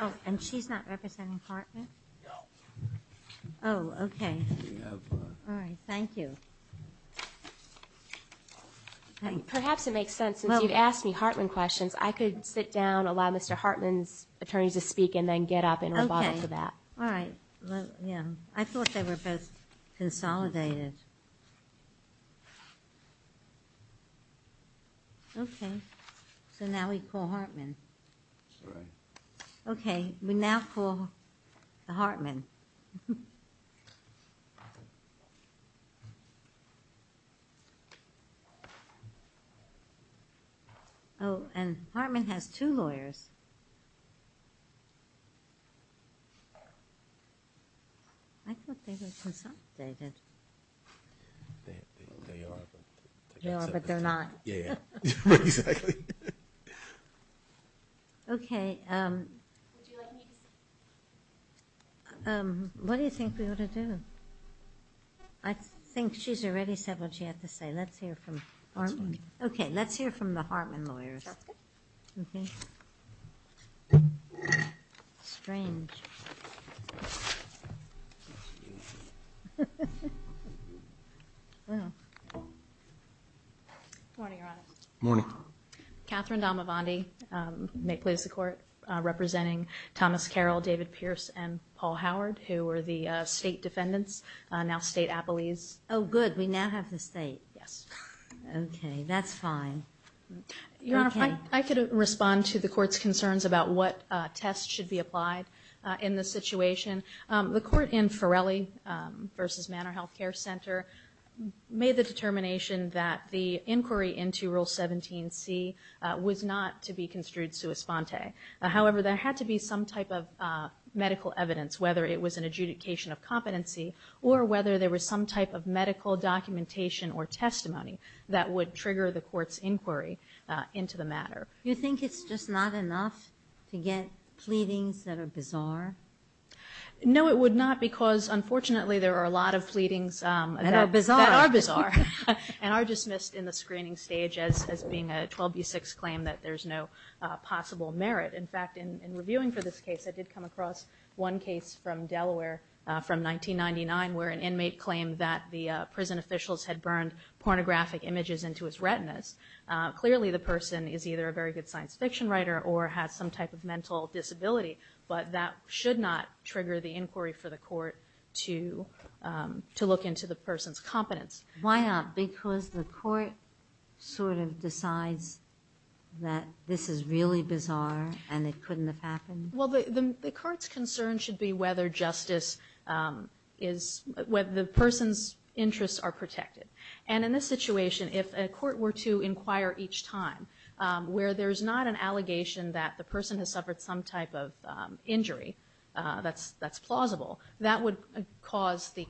Oh, and she's not representing Hartman? No. Oh, okay. All right, thank you. Perhaps it makes sense, since you've asked me Hartman questions, I could sit down, allow Mr. Hartman's attorneys to speak, and then get up and rebuttal to that. All right, yeah. I thought they were both consolidated. Okay, so now we call Hartman. All right. Okay, we thought they were consolidated. Okay, what do you think we ought to do? I think she's already said what she had to say. Let's hear from Hartman. Okay, let's hear from the attorney. Good morning, Your Honor. Good morning. Catherine D'Amavandi, may it please the Court, representing Thomas Carroll, David Pierce, and Paul Howard, who were the state defendants, now state appellees. Oh, good, we now have the state. Yes. Okay, that's fine. Your Honor, I could respond to the Court's concerns about what tests should be applied in this case. I think it's just not enough to get pleadings that are bizarre? No, it would not, because unfortunately there are a lot of pleadings that are bizarre and are dismissed in the screening stage as being a 12b6 claim that there's no possible merit. In fact, in reviewing for this case, I did come across one case from Delaware from 1999, where an inmate claimed that the prison officials had burned pornographic images into his retinas. Clearly, the person is either a very good science fiction writer or has some type of mental disability, but that should not trigger the inquiry for the Court to look into the person's competence. Why not? Because the Court sort of decides that this is really bizarre and it couldn't have happened? Well, the Court's concern should be whether justice is, whether the person's interests are protected. And in this situation, if a court were to inquire each time where there's not an allegation that the person has suffered some type of injury that's plausible, that would cause the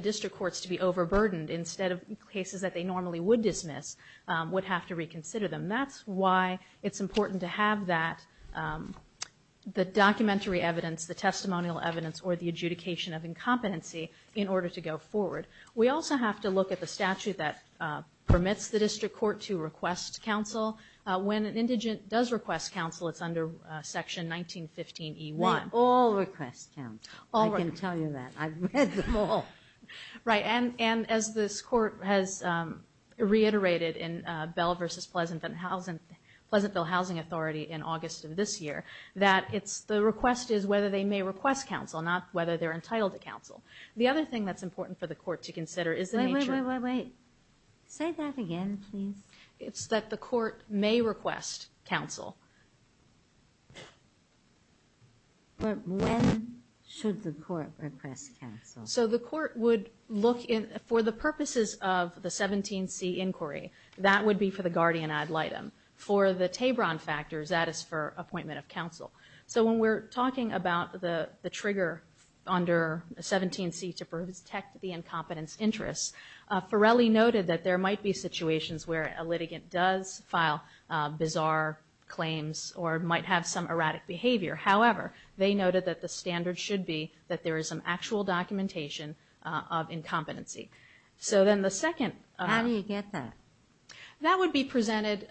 District Courts to be overburdened instead of cases that they normally would dismiss would have to reconsider them. That's why it's important to have that, the documentary evidence, the testimonial evidence, or the adjudication of incompetency in order to go forward. We also have to look at the statute that permits the District Court to request counsel. When an indigent does request counsel, it's under Section 1915E1. They all request counsel. I can tell you that. I've read them all. Right, and as this Court has reiterated in Bell v. Pleasantville Housing Authority in August of this year, that the request is whether they may request counsel, not whether they're entitled to counsel. The other thing that's important for the Court to consider is the nature... Wait, wait, wait, wait, wait. Say that again, please. It's that the Court may request counsel. But when should the Court request counsel? So the Court would look, for the purposes of the 17C inquiry, that would be for the guardian ad litem. For the Tebron factors, that is for appointment of counsel. So when we're talking about the trigger under 17C to protect the incompetence interests, Forelli noted that there might be situations where a litigant does file bizarre claims or might have some erratic behavior. However, they noted that the standard should be that there is some actual documentation of incompetency. So then the second... How do you get that? That would be presented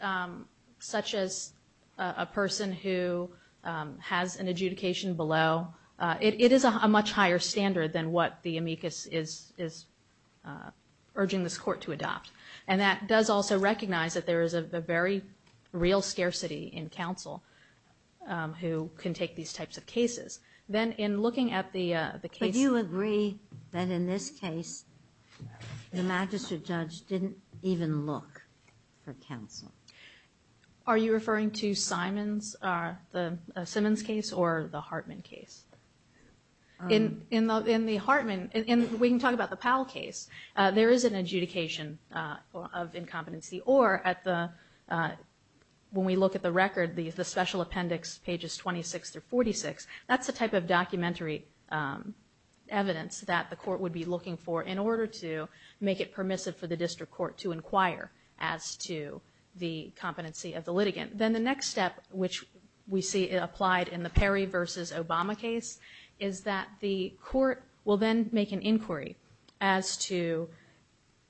such as a person who has an adjudication below. It is a much higher standard than what the amicus is urging this Court to adopt. And that does also recognize that there is a very real scarcity in counsel who can take these types of cases. Then in looking at the case... But do you agree that in this case, the magistrate judge didn't even look for counsel? Are you referring to Simon's, the Simmons case or the Hartman case? In the Hartman... We can talk about the Powell case. There is an adjudication of incompetency. Or at the... When we look at the record, the special appendix pages 26 through 46, that's the type of documentary evidence that the Court would be looking for in order to make it permissive for the district court to inquire as to the competency of the litigant. Then the next step, which we see applied in the Perry versus Obama case, is that the Court will then make an inquiry as to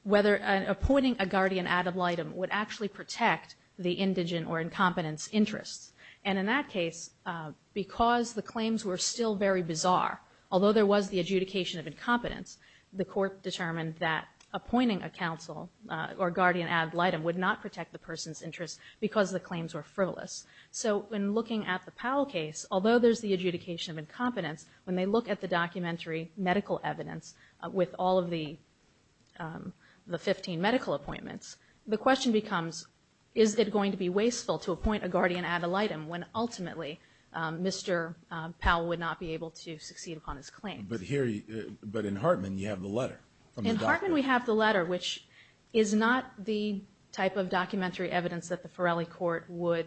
whether appointing a guardian ad litem would actually protect the indigent or incompetent's interests. And in that case, because the claims were still very bizarre, although there was the adjudication of incompetence, the Court determined that appointing a counsel or guardian ad litem would not protect the person's interests because the claims were still very bizarre. The claims were frivolous. So in looking at the Powell case, although there's the adjudication of incompetence, when they look at the documentary medical evidence with all of the 15 medical appointments, the question becomes, is it going to be wasteful to appoint a guardian ad litem when ultimately, Mr. Powell would not be able to succeed upon his claims? But in Hartman, you have the letter. In Hartman, we have the letter, which is not the type of documentary evidence that the Farrelly Court would...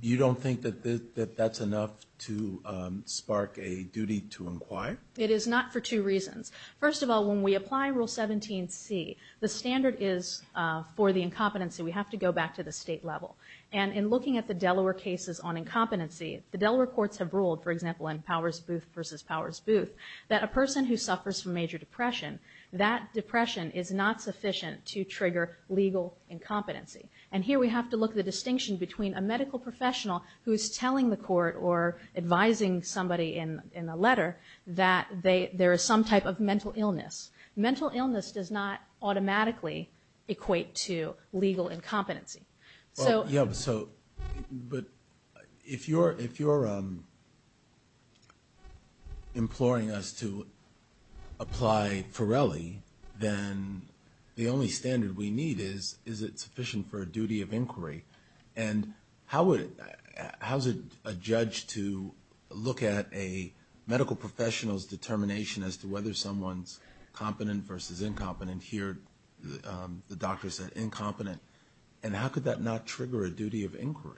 You don't think that that's enough to spark a duty to inquire? It is not for two reasons. First of all, when we apply Rule 17c, the standard is for the incompetency. We have to go back to the state level. And in looking at the Delaware cases on incompetency, the Delaware courts have ruled, for example, in Powers Booth versus Powers Booth, that a person who suffers from major depression, that depression is not sufficient to trigger legal incompetency. And here we have to look at the distinction between a medical professional who is telling the court or advising somebody in a letter that there is some type of mental illness. Mental illness does not automatically equate to legal incompetency. But if you're imploring us to apply Farrelly, then the only standard we need is, is it sufficient for a duty of inquiry? And how would, how's a judge to look at a medical professional's determination as to whether someone's competent versus incompetent? Here, the doctor said incompetent. And how could that not trigger a duty of inquiry?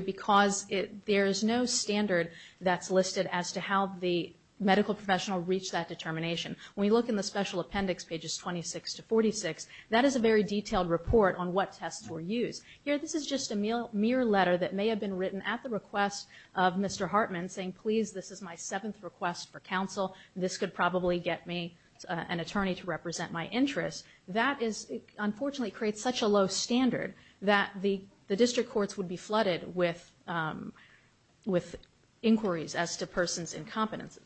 Because it, there is no standard that's listed as to how the medical professional reached that determination. When you look in the special appendix, pages 26 to 46, that is a very detailed report on what tests were used. Here, this is just a mere letter that may have been written at the request of Mr. Hartman saying, please, this is my seventh request for counsel. This could probably get me an attorney to represent my interests. That is, unfortunately, creates such a low standard that the district courts would be flooded with inquiries as to person's incompetence.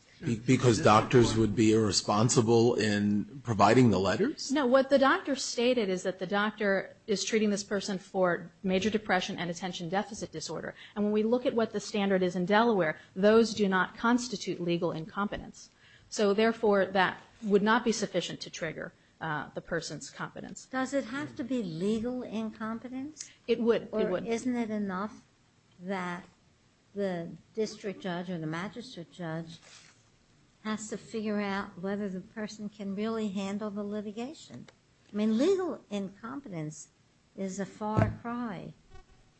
Because doctors would be irresponsible in providing the letters? No, what the doctor stated is that the doctor is treating this person for major depression and attention deficit disorder. And when we look at what the standard is in Delaware, those do not constitute legal incompetence. So, therefore, that would not be sufficient to trigger the person's competence. Does it have to be legal incompetence? It would. Or isn't it enough that the district judge or the magistrate judge has to figure out whether the person can really handle the litigation? I mean, legal incompetence is a far cry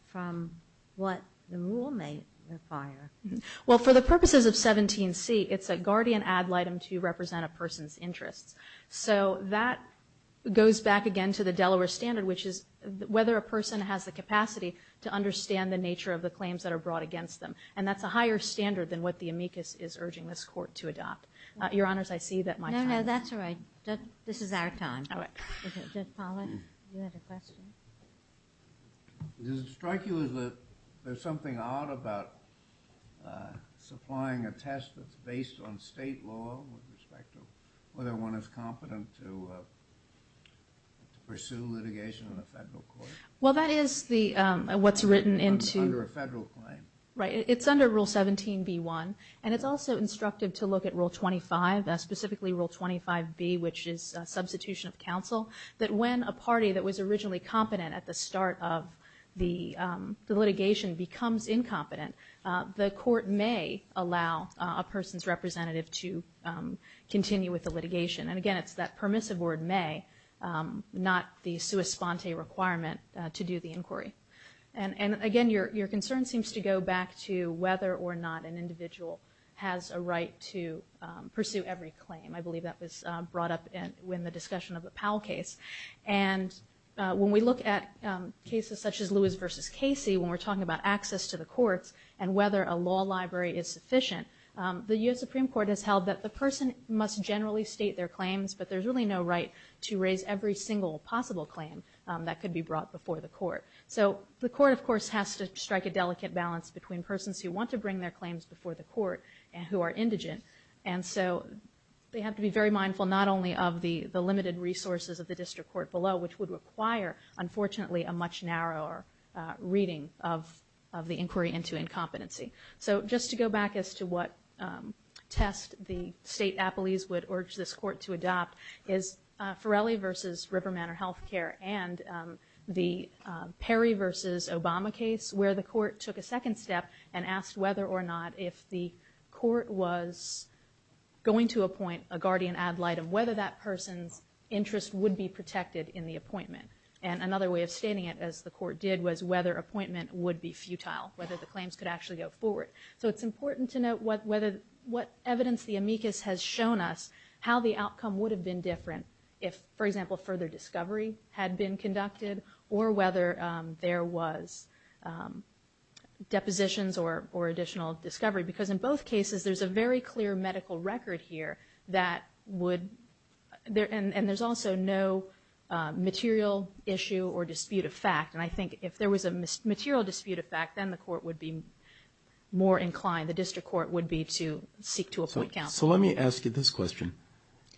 from what the rule may require. Well, for the purposes of 17C, it's a guardian ad litem to represent a person's interests. So that goes back again to the Delaware standard, which is whether a person has the capacity to understand the nature of the claims that are brought against them. And that's a higher standard than what the amicus is urging this court to adopt. Your Honors, I see that my time is up. No, no, that's all right. This is our time. All right. Judge Pollack, you had a question? Does it strike you that there's something odd about supplying a test that's based on state law with respect to whether one is competent to pursue litigation in a federal court? Well, that is what's written into... Under a federal claim. Right. It's under Rule 17B1, and it's also instructive to look at Rule 25, specifically Rule 25B, which is substitution of counsel, that when a party that was originally competent at the start of the litigation becomes incompetent, the court may allow a person's representative to continue with the litigation. And again, it's that permissive word, may, not the sua sponte requirement to do the inquiry. And again, your concern seems to go back to whether or not an individual has a right to pursue every claim. I believe that was brought up in the discussion of the Powell case. And when we look at cases such as Lewis v. Casey, when we're talking about access to the courts and whether a law library is sufficient, the U.S. Supreme Court has held that the person must generally state their claims, but there's really no right to raise every single possible claim that could be brought before the court. So the court, of course, has to strike a delicate balance between persons who want to bring their claims before the court and who are indigent. And so they have to be very mindful not only of the limited resources of the district court below, which would require, unfortunately, a much narrower reading of the inquiry into incompetency. So just to go back as to what test the state appellees would urge this court to adopt, is Farrelly v. River Manor Health Care and the Perry v. Obama case, where the court took a second step and asked whether or not if the court was going to appoint a guardian ad litem, whether that person's interest would be protected in the appointment. And another way of stating it, as the court did, was whether appointment would be futile, whether the claims could actually go forward. So it's important to note what evidence the amicus has shown us, how the outcome would have been different if, for example, further discovery had been conducted, or whether there was depositions or additional discovery. Because in both cases, there's a very clear medical record here that would – and there's also no material issue or dispute of fact. And I think if there was a material dispute of fact, then the court would be more inclined, the district court would be to seek to appoint counsel. So let me ask you this question.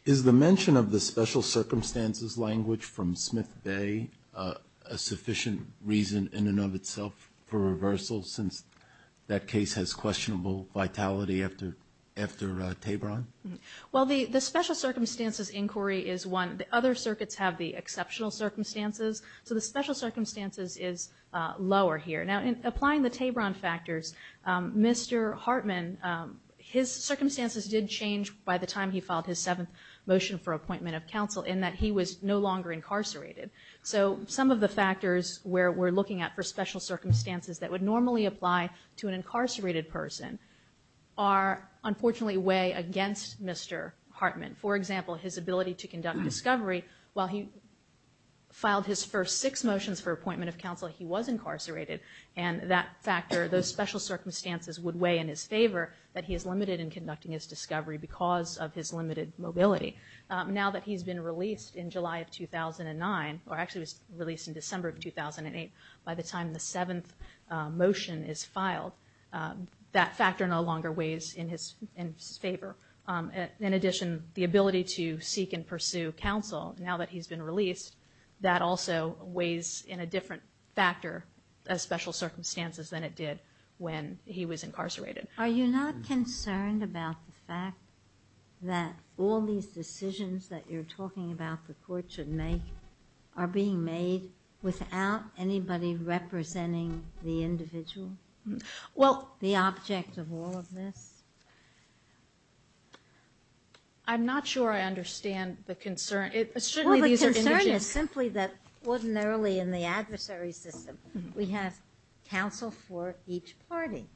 Is the mention of the special circumstances language from Smith v. a sufficient reason in and of itself for reversal, since that case has questionable vitality after Tabron? Well, the special circumstances inquiry is one. The other circuits have the exceptional circumstances. So the special circumstances is lower here. Now, in applying the Tabron factors, Mr. Hartman, his circumstances did change by the time he filed his seventh motion for appointment of counsel, in that he was no longer incarcerated. So some of the factors where we're looking at for special circumstances that would normally apply to an incarcerated person are, unfortunately, way against Mr. Hartman. For example, his ability to conduct discovery. While he filed his first six motions for appointment of counsel, he was incarcerated. And that factor, those special circumstances would weigh in his favor, that he is limited in conducting his discovery because of his limited mobility. Now that he's been released in July of 2009, or actually was released in December of 2008, by the time the seventh motion is filed, that factor no longer weighs in his favor. In addition, the ability to seek and pursue counsel, now that he's been released, that also weighs in a different factor as special circumstances than it did when he was incarcerated. Are you not concerned about the fact that all these decisions that you're talking about the court should make are being made without anybody representing the individual, the object of all of this? I'm not sure I understand the concern. Well, the concern is simply that ordinarily in the adversary system, we have counsel for each party.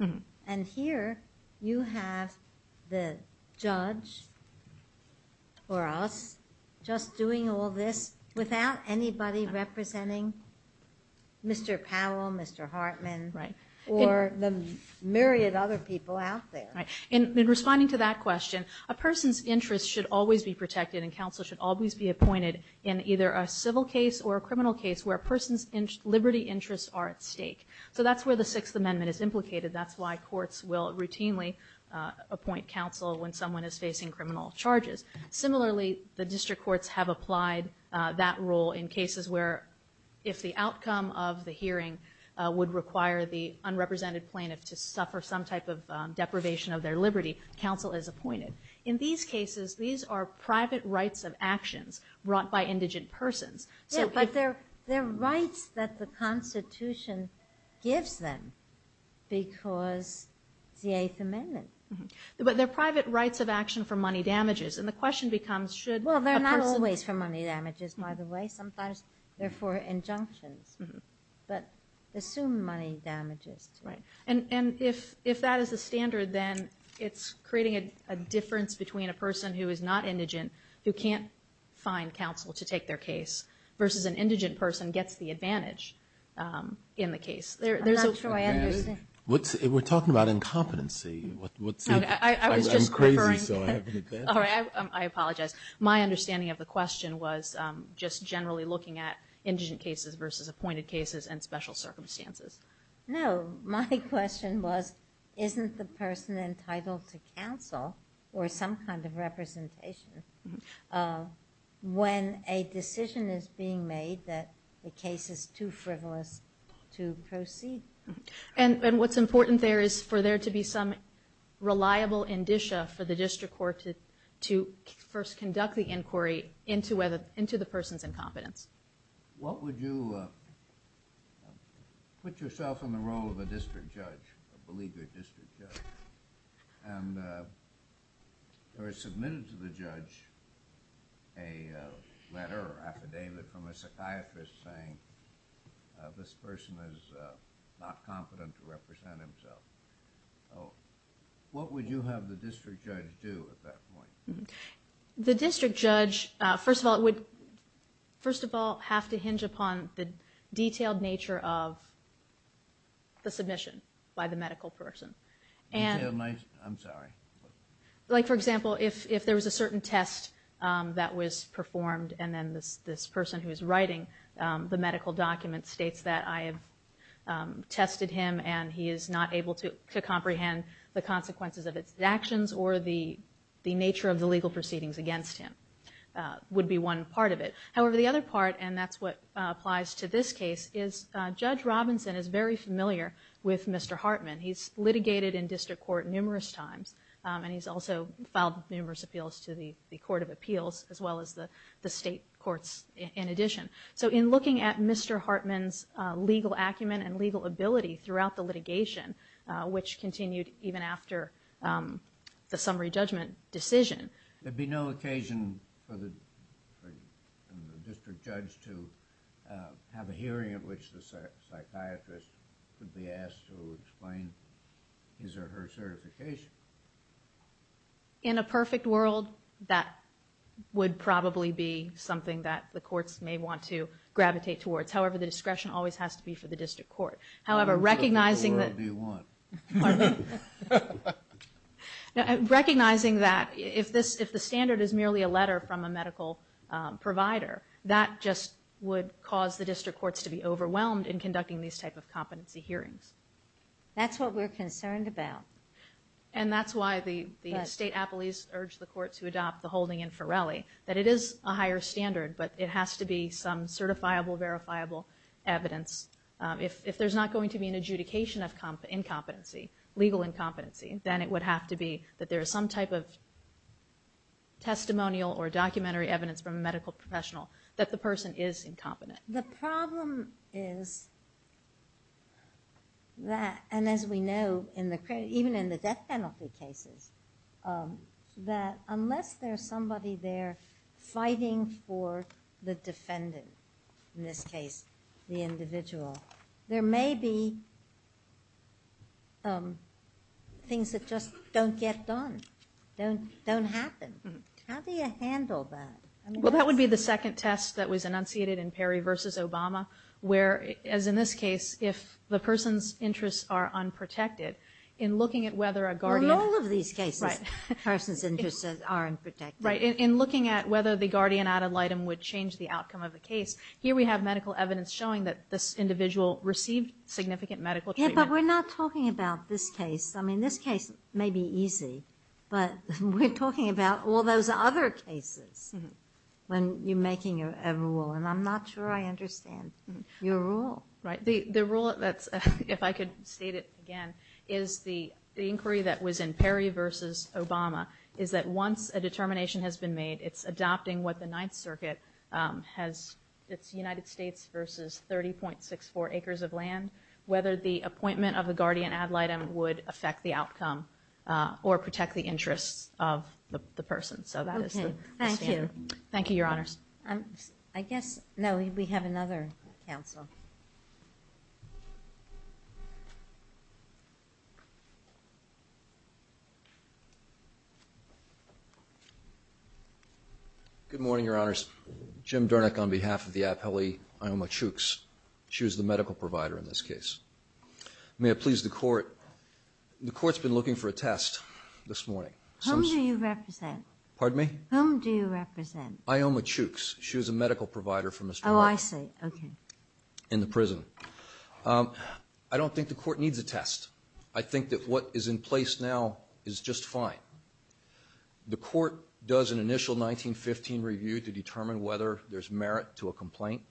And here you have the judge, or us, just doing all this without anybody representing Mr. Powell, Mr. Hartman, or the myriad other people out there. In responding to that question, a person's interest should always be protected and counsel should always be appointed in either a civil case or a criminal case So that's where the Sixth Amendment is implicated. That's why courts will routinely appoint counsel when someone is facing criminal charges. Similarly, the district courts have applied that rule in cases where if the outcome of the hearing would require the unrepresented plaintiff to suffer some type of deprivation of their liberty, counsel is appointed. In these cases, these are private rights of actions brought by indigent persons. Yeah, but they're rights that the Constitution gives them because it's the Eighth Amendment. But they're private rights of action for money damages. And the question becomes, should a person... Well, they're not always for money damages, by the way. Sometimes they're for injunctions. But assume money damages. Right. And if that is the standard, then it's creating a difference between a person who is not indigent who can't find counsel to take their case versus an indigent person gets the advantage in the case. I'm not sure I understand. We're talking about incompetency. I'm crazy, so I have an advantage. I apologize. My understanding of the question was just generally looking at indigent cases versus appointed cases and special circumstances. No, my question was, isn't the person entitled to counsel or some kind of representation when a decision is being made that the case is too frivolous to proceed? And what's important there is for there to be some reliable indicia for the district court to first conduct the inquiry into the person's incompetence. What would you put yourself in the role of a district judge, a beleaguered district judge, and there is submitted to the judge a letter or affidavit from a psychiatrist saying this person is not competent to represent himself. What would you have the district judge do at that point? The district judge, first of all, would have to hinge upon the detailed nature of the submission by the medical person. I'm sorry. Like, for example, if there was a certain test that was performed and then this person who is writing the medical document states that I have tested him and he is not able to comprehend the consequences of his actions or the nature of the legal proceedings against him would be one part of it. However, the other part, and that's what applies to this case, is Judge Robinson is very familiar with Mr. Hartman. He's litigated in district court numerous times and he's also filed numerous appeals to the Court of Appeals as well as the state courts in addition. So in looking at Mr. Hartman's legal acumen and legal ability throughout the litigation, which continued even after the summary judgment decision. There'd be no occasion for the district judge to have a hearing at which the psychiatrist would be asked to explain his or her certification. In a perfect world, that would probably be something that the courts may want to gravitate towards. However, the discretion always has to be for the district court. However, recognizing that if the standard is merely a letter from a medical provider, that just would cause the district courts to be overwhelmed in conducting these type of competency hearings. That's what we're concerned about. And that's why the state appellees urged the court to adopt the holding in Forelli, that it is a higher standard, but it has to be some certifiable, verifiable evidence. If there's not going to be an adjudication of legal incompetency, then it would have to be that there is some type of testimonial or documentary evidence from a medical professional that the person is incompetent. The problem is that, and as we know, even in the death penalty cases, that unless there's somebody there fighting for the defendant, in this case the individual, there may be things that just don't get done, don't happen. How do you handle that? Well, that would be the second test that was enunciated in Perry v. Obama, where, as in this case, if the person's interests are unprotected, in looking at whether a guardian... In all of these cases, persons' interests are unprotected. Right. In looking at whether the guardian ad litem would change the outcome of the case, here we have medical evidence showing that this individual received significant medical treatment. Yeah, but we're not talking about this case. I mean, this case may be easy, but we're talking about all those other cases when you're making a rule, and I'm not sure I understand your rule. Right. The rule that's, if I could state it again, is the inquiry that was in Perry v. Obama, is that once a determination has been made, it's adopting what the Ninth Circuit has, it's United States v. 30.64 acres of land, whether the appointment of a guardian ad litem would affect the outcome or protect the interests of the person. So that is the standard. Okay. Thank you. Thank you, Your Honors. I guess, no, we have another counsel. Good morning, Your Honors. Jim Durnick on behalf of the appellee, Ioma Chooks. She was the medical provider in this case. May I please the Court? The Court's been looking for a test this morning. Whom do you represent? Pardon me? Whom do you represent? Ioma Chooks. She was a medical provider for Mr. Murdoch. Oh, I see. Okay. In the prison. I don't think the Court needs a test. I think that what is in place now is just fine. The Court does an initial 1915 review to determine whether there's merit to a complaint.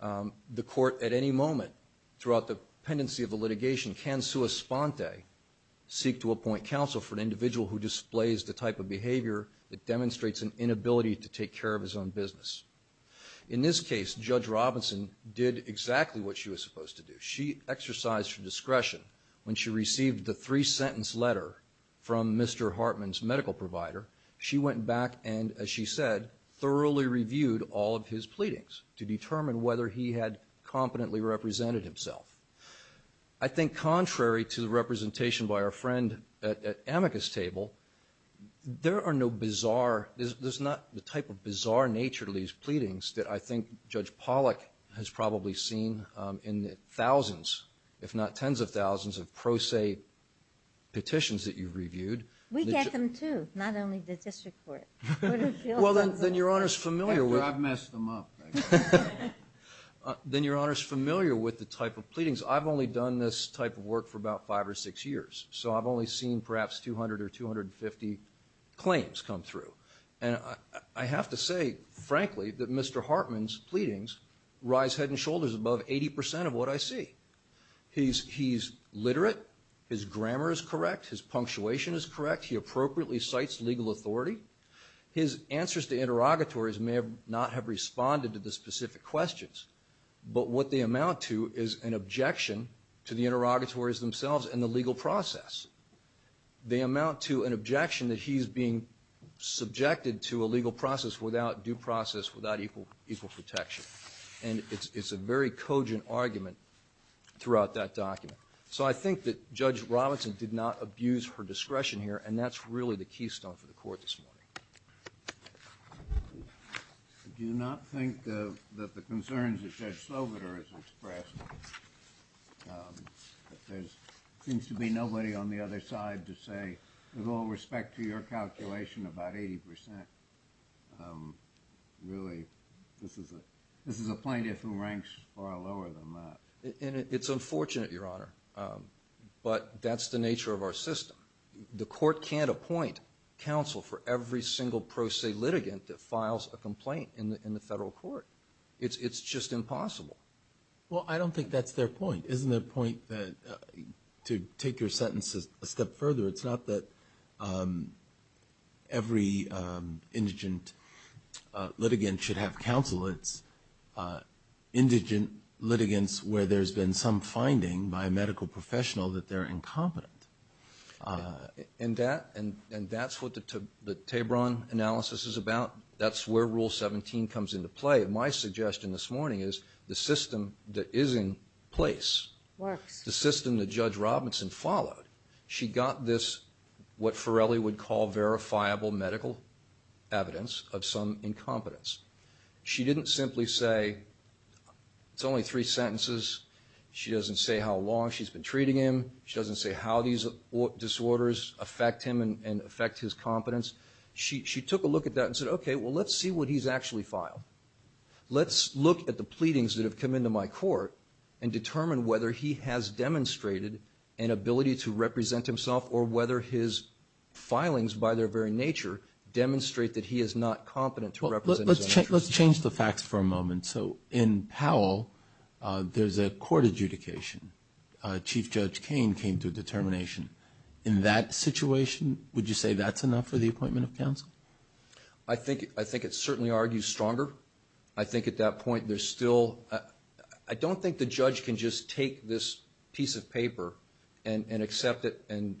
The Court at any moment throughout the pendency of the litigation can sua sponte, seek to appoint counsel for an individual who displays the type of behavior that demonstrates an inability to take care of his own business. In this case, Judge Robinson did exactly what she was supposed to do. She exercised her discretion when she received the three-sentence letter from Mr. Hartman's medical provider. She went back and, as she said, thoroughly reviewed all of his pleadings to determine whether he had competently represented himself. I think contrary to the representation by our friend at Amicus Table, there are no bizarre, there's not the type of bizarre nature to these pleadings that I think Judge Pollack has probably seen in thousands, if not tens of thousands, of pro se petitions that you've reviewed. We get them, too, not only the district court. Well, then Your Honor's familiar with... I've messed them up. Then Your Honor's familiar with the type of pleadings. I've only done this type of work for about five or six years, so I've only seen perhaps 200 or 250 claims come through. And I have to say, frankly, that Mr. Hartman's pleadings rise head and shoulders above 80% of what I see. He's literate. His grammar is correct. His punctuation is correct. He appropriately cites legal authority. His answers to interrogatories may not have responded to the specific questions, but what they amount to is an objection to the interrogatories themselves and the legal process. They amount to an objection that he's being subjected to a legal process without due process, without equal protection. And it's a very cogent argument throughout that document. So I think that Judge Robinson did not abuse her discretion here, and that's really the keystone for the court this morning. I do not think that the concerns that Judge Sloboda has expressed, that there seems to be nobody on the other side to say, with all respect to your calculation, about 80%. Really, this is a plaintiff who ranks far lower than that. It's unfortunate, Your Honor, but that's the nature of our system. The court can't appoint counsel for every single pro se litigant that files a complaint in the federal court. It's just impossible. Well, I don't think that's their point. Isn't their point to take your sentences a step further? It's not that every indigent litigant should have counsel. It's indigent litigants where there's been some finding by a medical professional that they're incompetent. And that's what the Tabron analysis is about. That's where Rule 17 comes into play. My suggestion this morning is the system that is in place, the system that Judge Robinson followed, she got this what Farrelly would call verifiable medical evidence of some incompetence. She didn't simply say it's only three sentences. She doesn't say how long she's been treating him. She doesn't say how these disorders affect him and affect his competence. She took a look at that and said, okay, well, let's see what he's actually filed. Let's look at the pleadings that have come into my court and determine whether he has demonstrated an ability to represent himself or whether his filings, by their very nature, demonstrate that he is not competent to represent himself. Let's change the facts for a moment. So in Powell, there's a court adjudication. Chief Judge Cain came to a determination. In that situation, would you say that's enough for the appointment of counsel? I think it certainly argues stronger. I think at that point there's still – I don't think the judge can just take this piece of paper and accept it and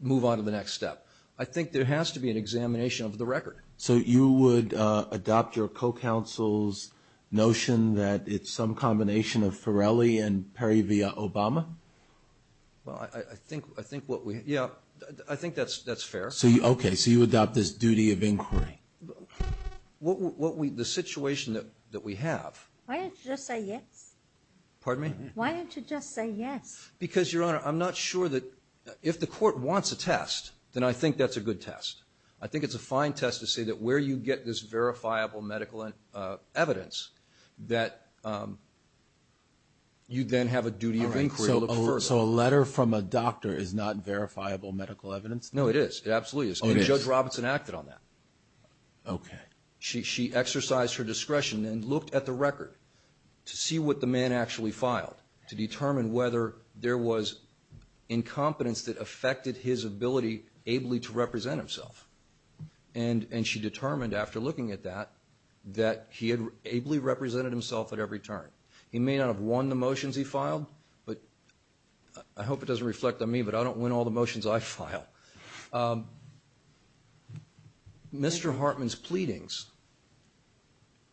move on to the next step. I think there has to be an examination of the record. So you would adopt your co-counsel's notion that it's some combination of Farrelly and Perry v. Obama? Well, I think what we – yeah, I think that's fair. Okay, so you adopt this duty of inquiry. The situation that we have – Why don't you just say yes? Pardon me? Why don't you just say yes? Because, Your Honor, I'm not sure that – if the court wants a test, then I think that's a good test. I think it's a fine test to say that where you get this verifiable medical evidence, that you then have a duty of inquiry to look further. So a letter from a doctor is not verifiable medical evidence? No, it is. It absolutely is. And Judge Robinson acted on that. Okay. She exercised her discretion and looked at the record to see what the man actually filed to determine whether there was incompetence that affected his ability ably to represent himself. And she determined after looking at that that he had ably represented himself at every turn. He may not have won the motions he filed, I hope it doesn't reflect on me, but I don't win all the motions I file. Mr. Hartman's pleadings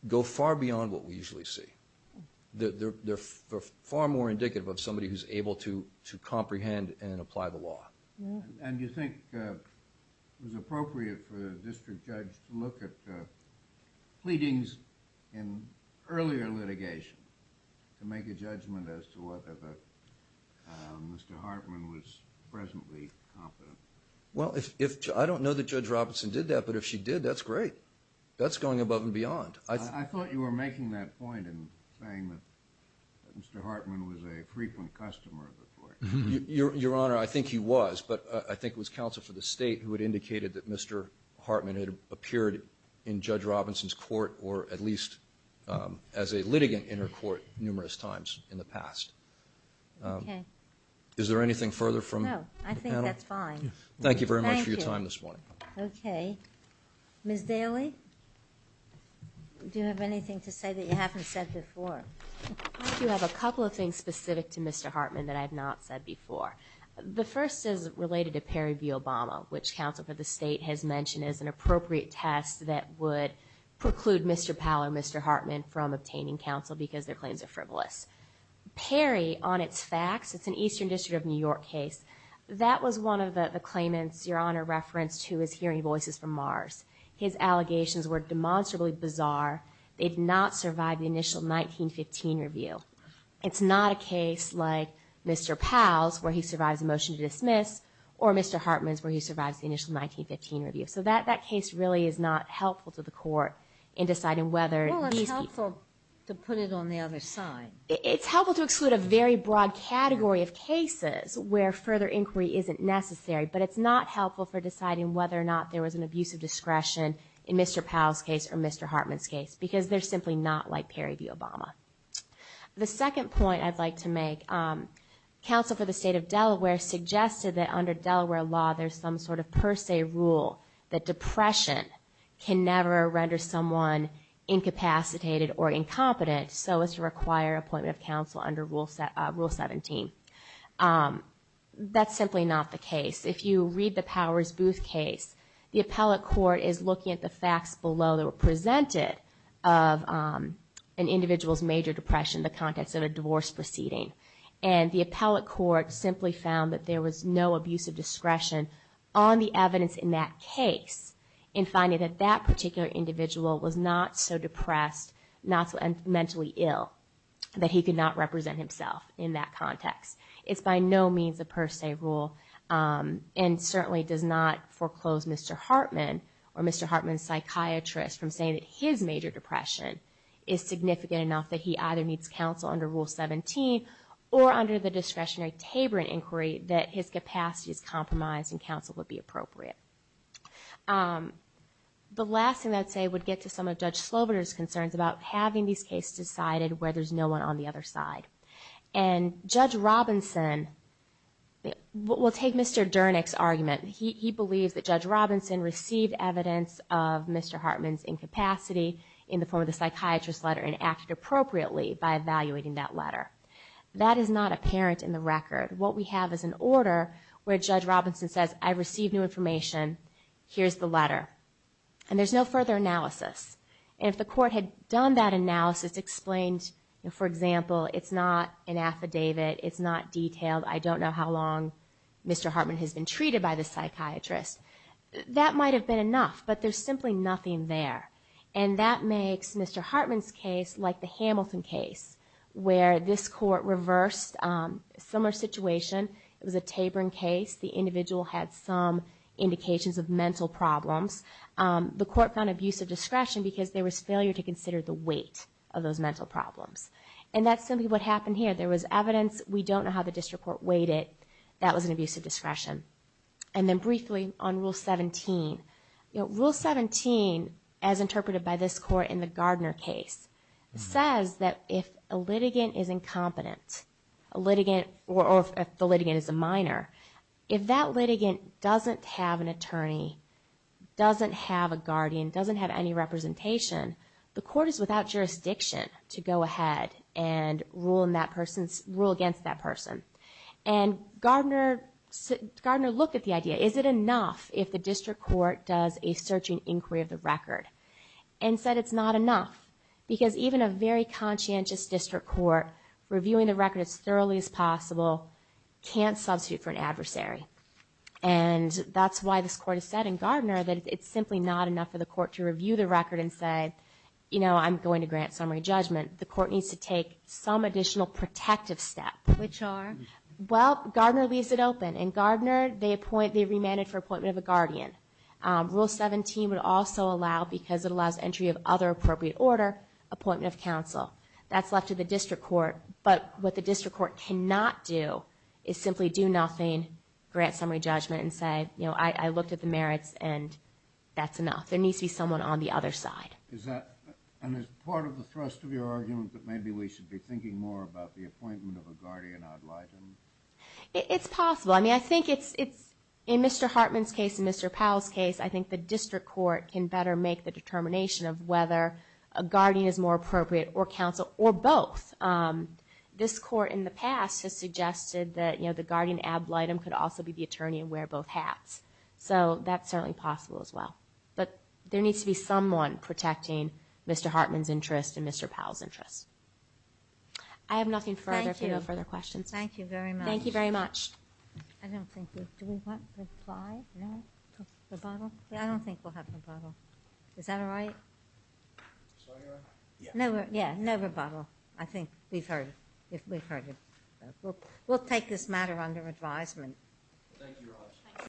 go far beyond what we usually see. They're far more indicative of somebody who's able to comprehend and apply the law. And you think it was appropriate for the district judge to look at pleadings in earlier litigation to make a judgment as to whether Mr. Hartman was presently competent? Well, I don't know that Judge Robinson did that, but if she did, that's great. That's going above and beyond. I thought you were making that point in saying that Mr. Hartman was a frequent customer of the court. Your Honor, I think he was, but I think it was counsel for the state who had indicated that Mr. Hartman had appeared in Judge Robinson's court or at least as a litigant in her court numerous times in the past. Okay. Is there anything further from the panel? No, I think that's fine. Thank you very much for your time this morning. Thank you. Okay. Ms. Daly, do you have anything to say that you haven't said before? I do have a couple of things specific to Mr. Hartman that I have not said before. The first is related to Perry v. Obama, which counsel for the state has mentioned as an appropriate test that would preclude Mr. Powell or Mr. Hartman from obtaining counsel because their claims are frivolous. Perry, on its facts, it's an Eastern District of New York case. That was one of the claimants, Your Honor, referenced who was hearing voices from Mars. His allegations were demonstrably bizarre. They did not survive the initial 1915 review. It's not a case like Mr. Powell's where he survives a motion to dismiss or Mr. Hartman's where he survives the initial 1915 review. So that case really is not helpful to the court in deciding whether these people Well, it's helpful to put it on the other side. It's helpful to exclude a very broad category of cases where further inquiry isn't necessary, but it's not helpful for deciding whether or not there was an abuse of discretion in Mr. Powell's case or Mr. Hartman's case because they're simply not like Perry v. Obama. The second point I'd like to make, counsel for the state of Delaware suggested that under Delaware law there's some sort of per se rule that depression can never render someone incapacitated or incompetent, so as to require appointment of counsel under Rule 17. That's simply not the case. If you read the Powers Booth case, the appellate court is looking at the facts below that were presented of an individual's major depression in the context of a divorce proceeding. And the appellate court simply found that there was no abuse of discretion on the evidence in that case in finding that that particular individual was not so depressed, not so mentally ill, that he could not represent himself in that context. It's by no means a per se rule and certainly does not foreclose Mr. Hartman or Mr. Hartman's psychiatrist from saying that his major depression is significant enough that he either needs counsel under Rule 17 or under the discretionary Taboran inquiry that his capacity is compromised and counsel would be appropriate. The last thing I'd say would get to some of Judge Slobodur's concerns about having these cases decided where there's no one on the other side. And Judge Robinson... We'll take Mr. Dernick's argument. He believes that Judge Robinson received evidence of Mr. Hartman's incapacity in the form of the psychiatrist's letter and acted appropriately by evaluating that letter. That is not apparent in the record. What we have is an order where Judge Robinson says, I received new information, here's the letter. And there's no further analysis. And if the court had done that analysis, explained, for example, it's not an affidavit, it's not detailed, I don't know how long Mr. Hartman has been treated by the psychiatrist, that might have been enough, but there's simply nothing there. And that makes Mr. Hartman's case like the Hamilton case where this court reversed a similar situation. It was a Taborn case. The individual had some indications of mental problems. The court found abusive discretion because there was failure to consider the weight of those mental problems. And that's simply what happened here. There was evidence, we don't know how the district court weighed it, that was an abusive discretion. And then briefly on Rule 17. Rule 17, as interpreted by this court in the Gardner case, says that if a litigant is incompetent, or if the litigant is a minor, if that litigant doesn't have an attorney, doesn't have a guardian, doesn't have any representation, the court is without jurisdiction to go ahead And Gardner looked at the idea. Is it enough if the district court does a searching inquiry of the record? And said it's not enough. Because even a very conscientious district court reviewing the record as thoroughly as possible can't substitute for an adversary. And that's why this court has said in Gardner that it's simply not enough for the court to review the record and say, you know, I'm going to grant summary judgment. The court needs to take some additional protective step. Which are? Well, Gardner leaves it open. In Gardner, they remanded for appointment of a guardian. Rule 17 would also allow, because it allows entry of other appropriate order, appointment of counsel. That's left to the district court. But what the district court cannot do is simply do nothing, grant summary judgment, and say, you know, I looked at the merits and that's enough. There needs to be someone on the other side. And is part of the thrust of your argument that maybe we should be thinking more about the appointment of a guardian ad litem? It's possible. I mean, I think it's in Mr. Hartman's case and Mr. Powell's case, I think the district court can better make the determination of whether a guardian is more appropriate or counsel or both. This court in the past has suggested that, you know, the guardian ad litem could also be the attorney and wear both hats. So that's certainly possible as well. But there needs to be someone protecting Mr. Hartman's interest and Mr. Powell's interest. I have nothing further if you have no further questions. Thank you very much. Thank you very much. I don't think we... Do we want reply? No? Rebuttal? I don't think we'll have rebuttal. Is that all right? Sorry, Your Honor? Yeah, no rebuttal. I think we've heard it. We'll take this matter under advisement. Thank you, Your Honor.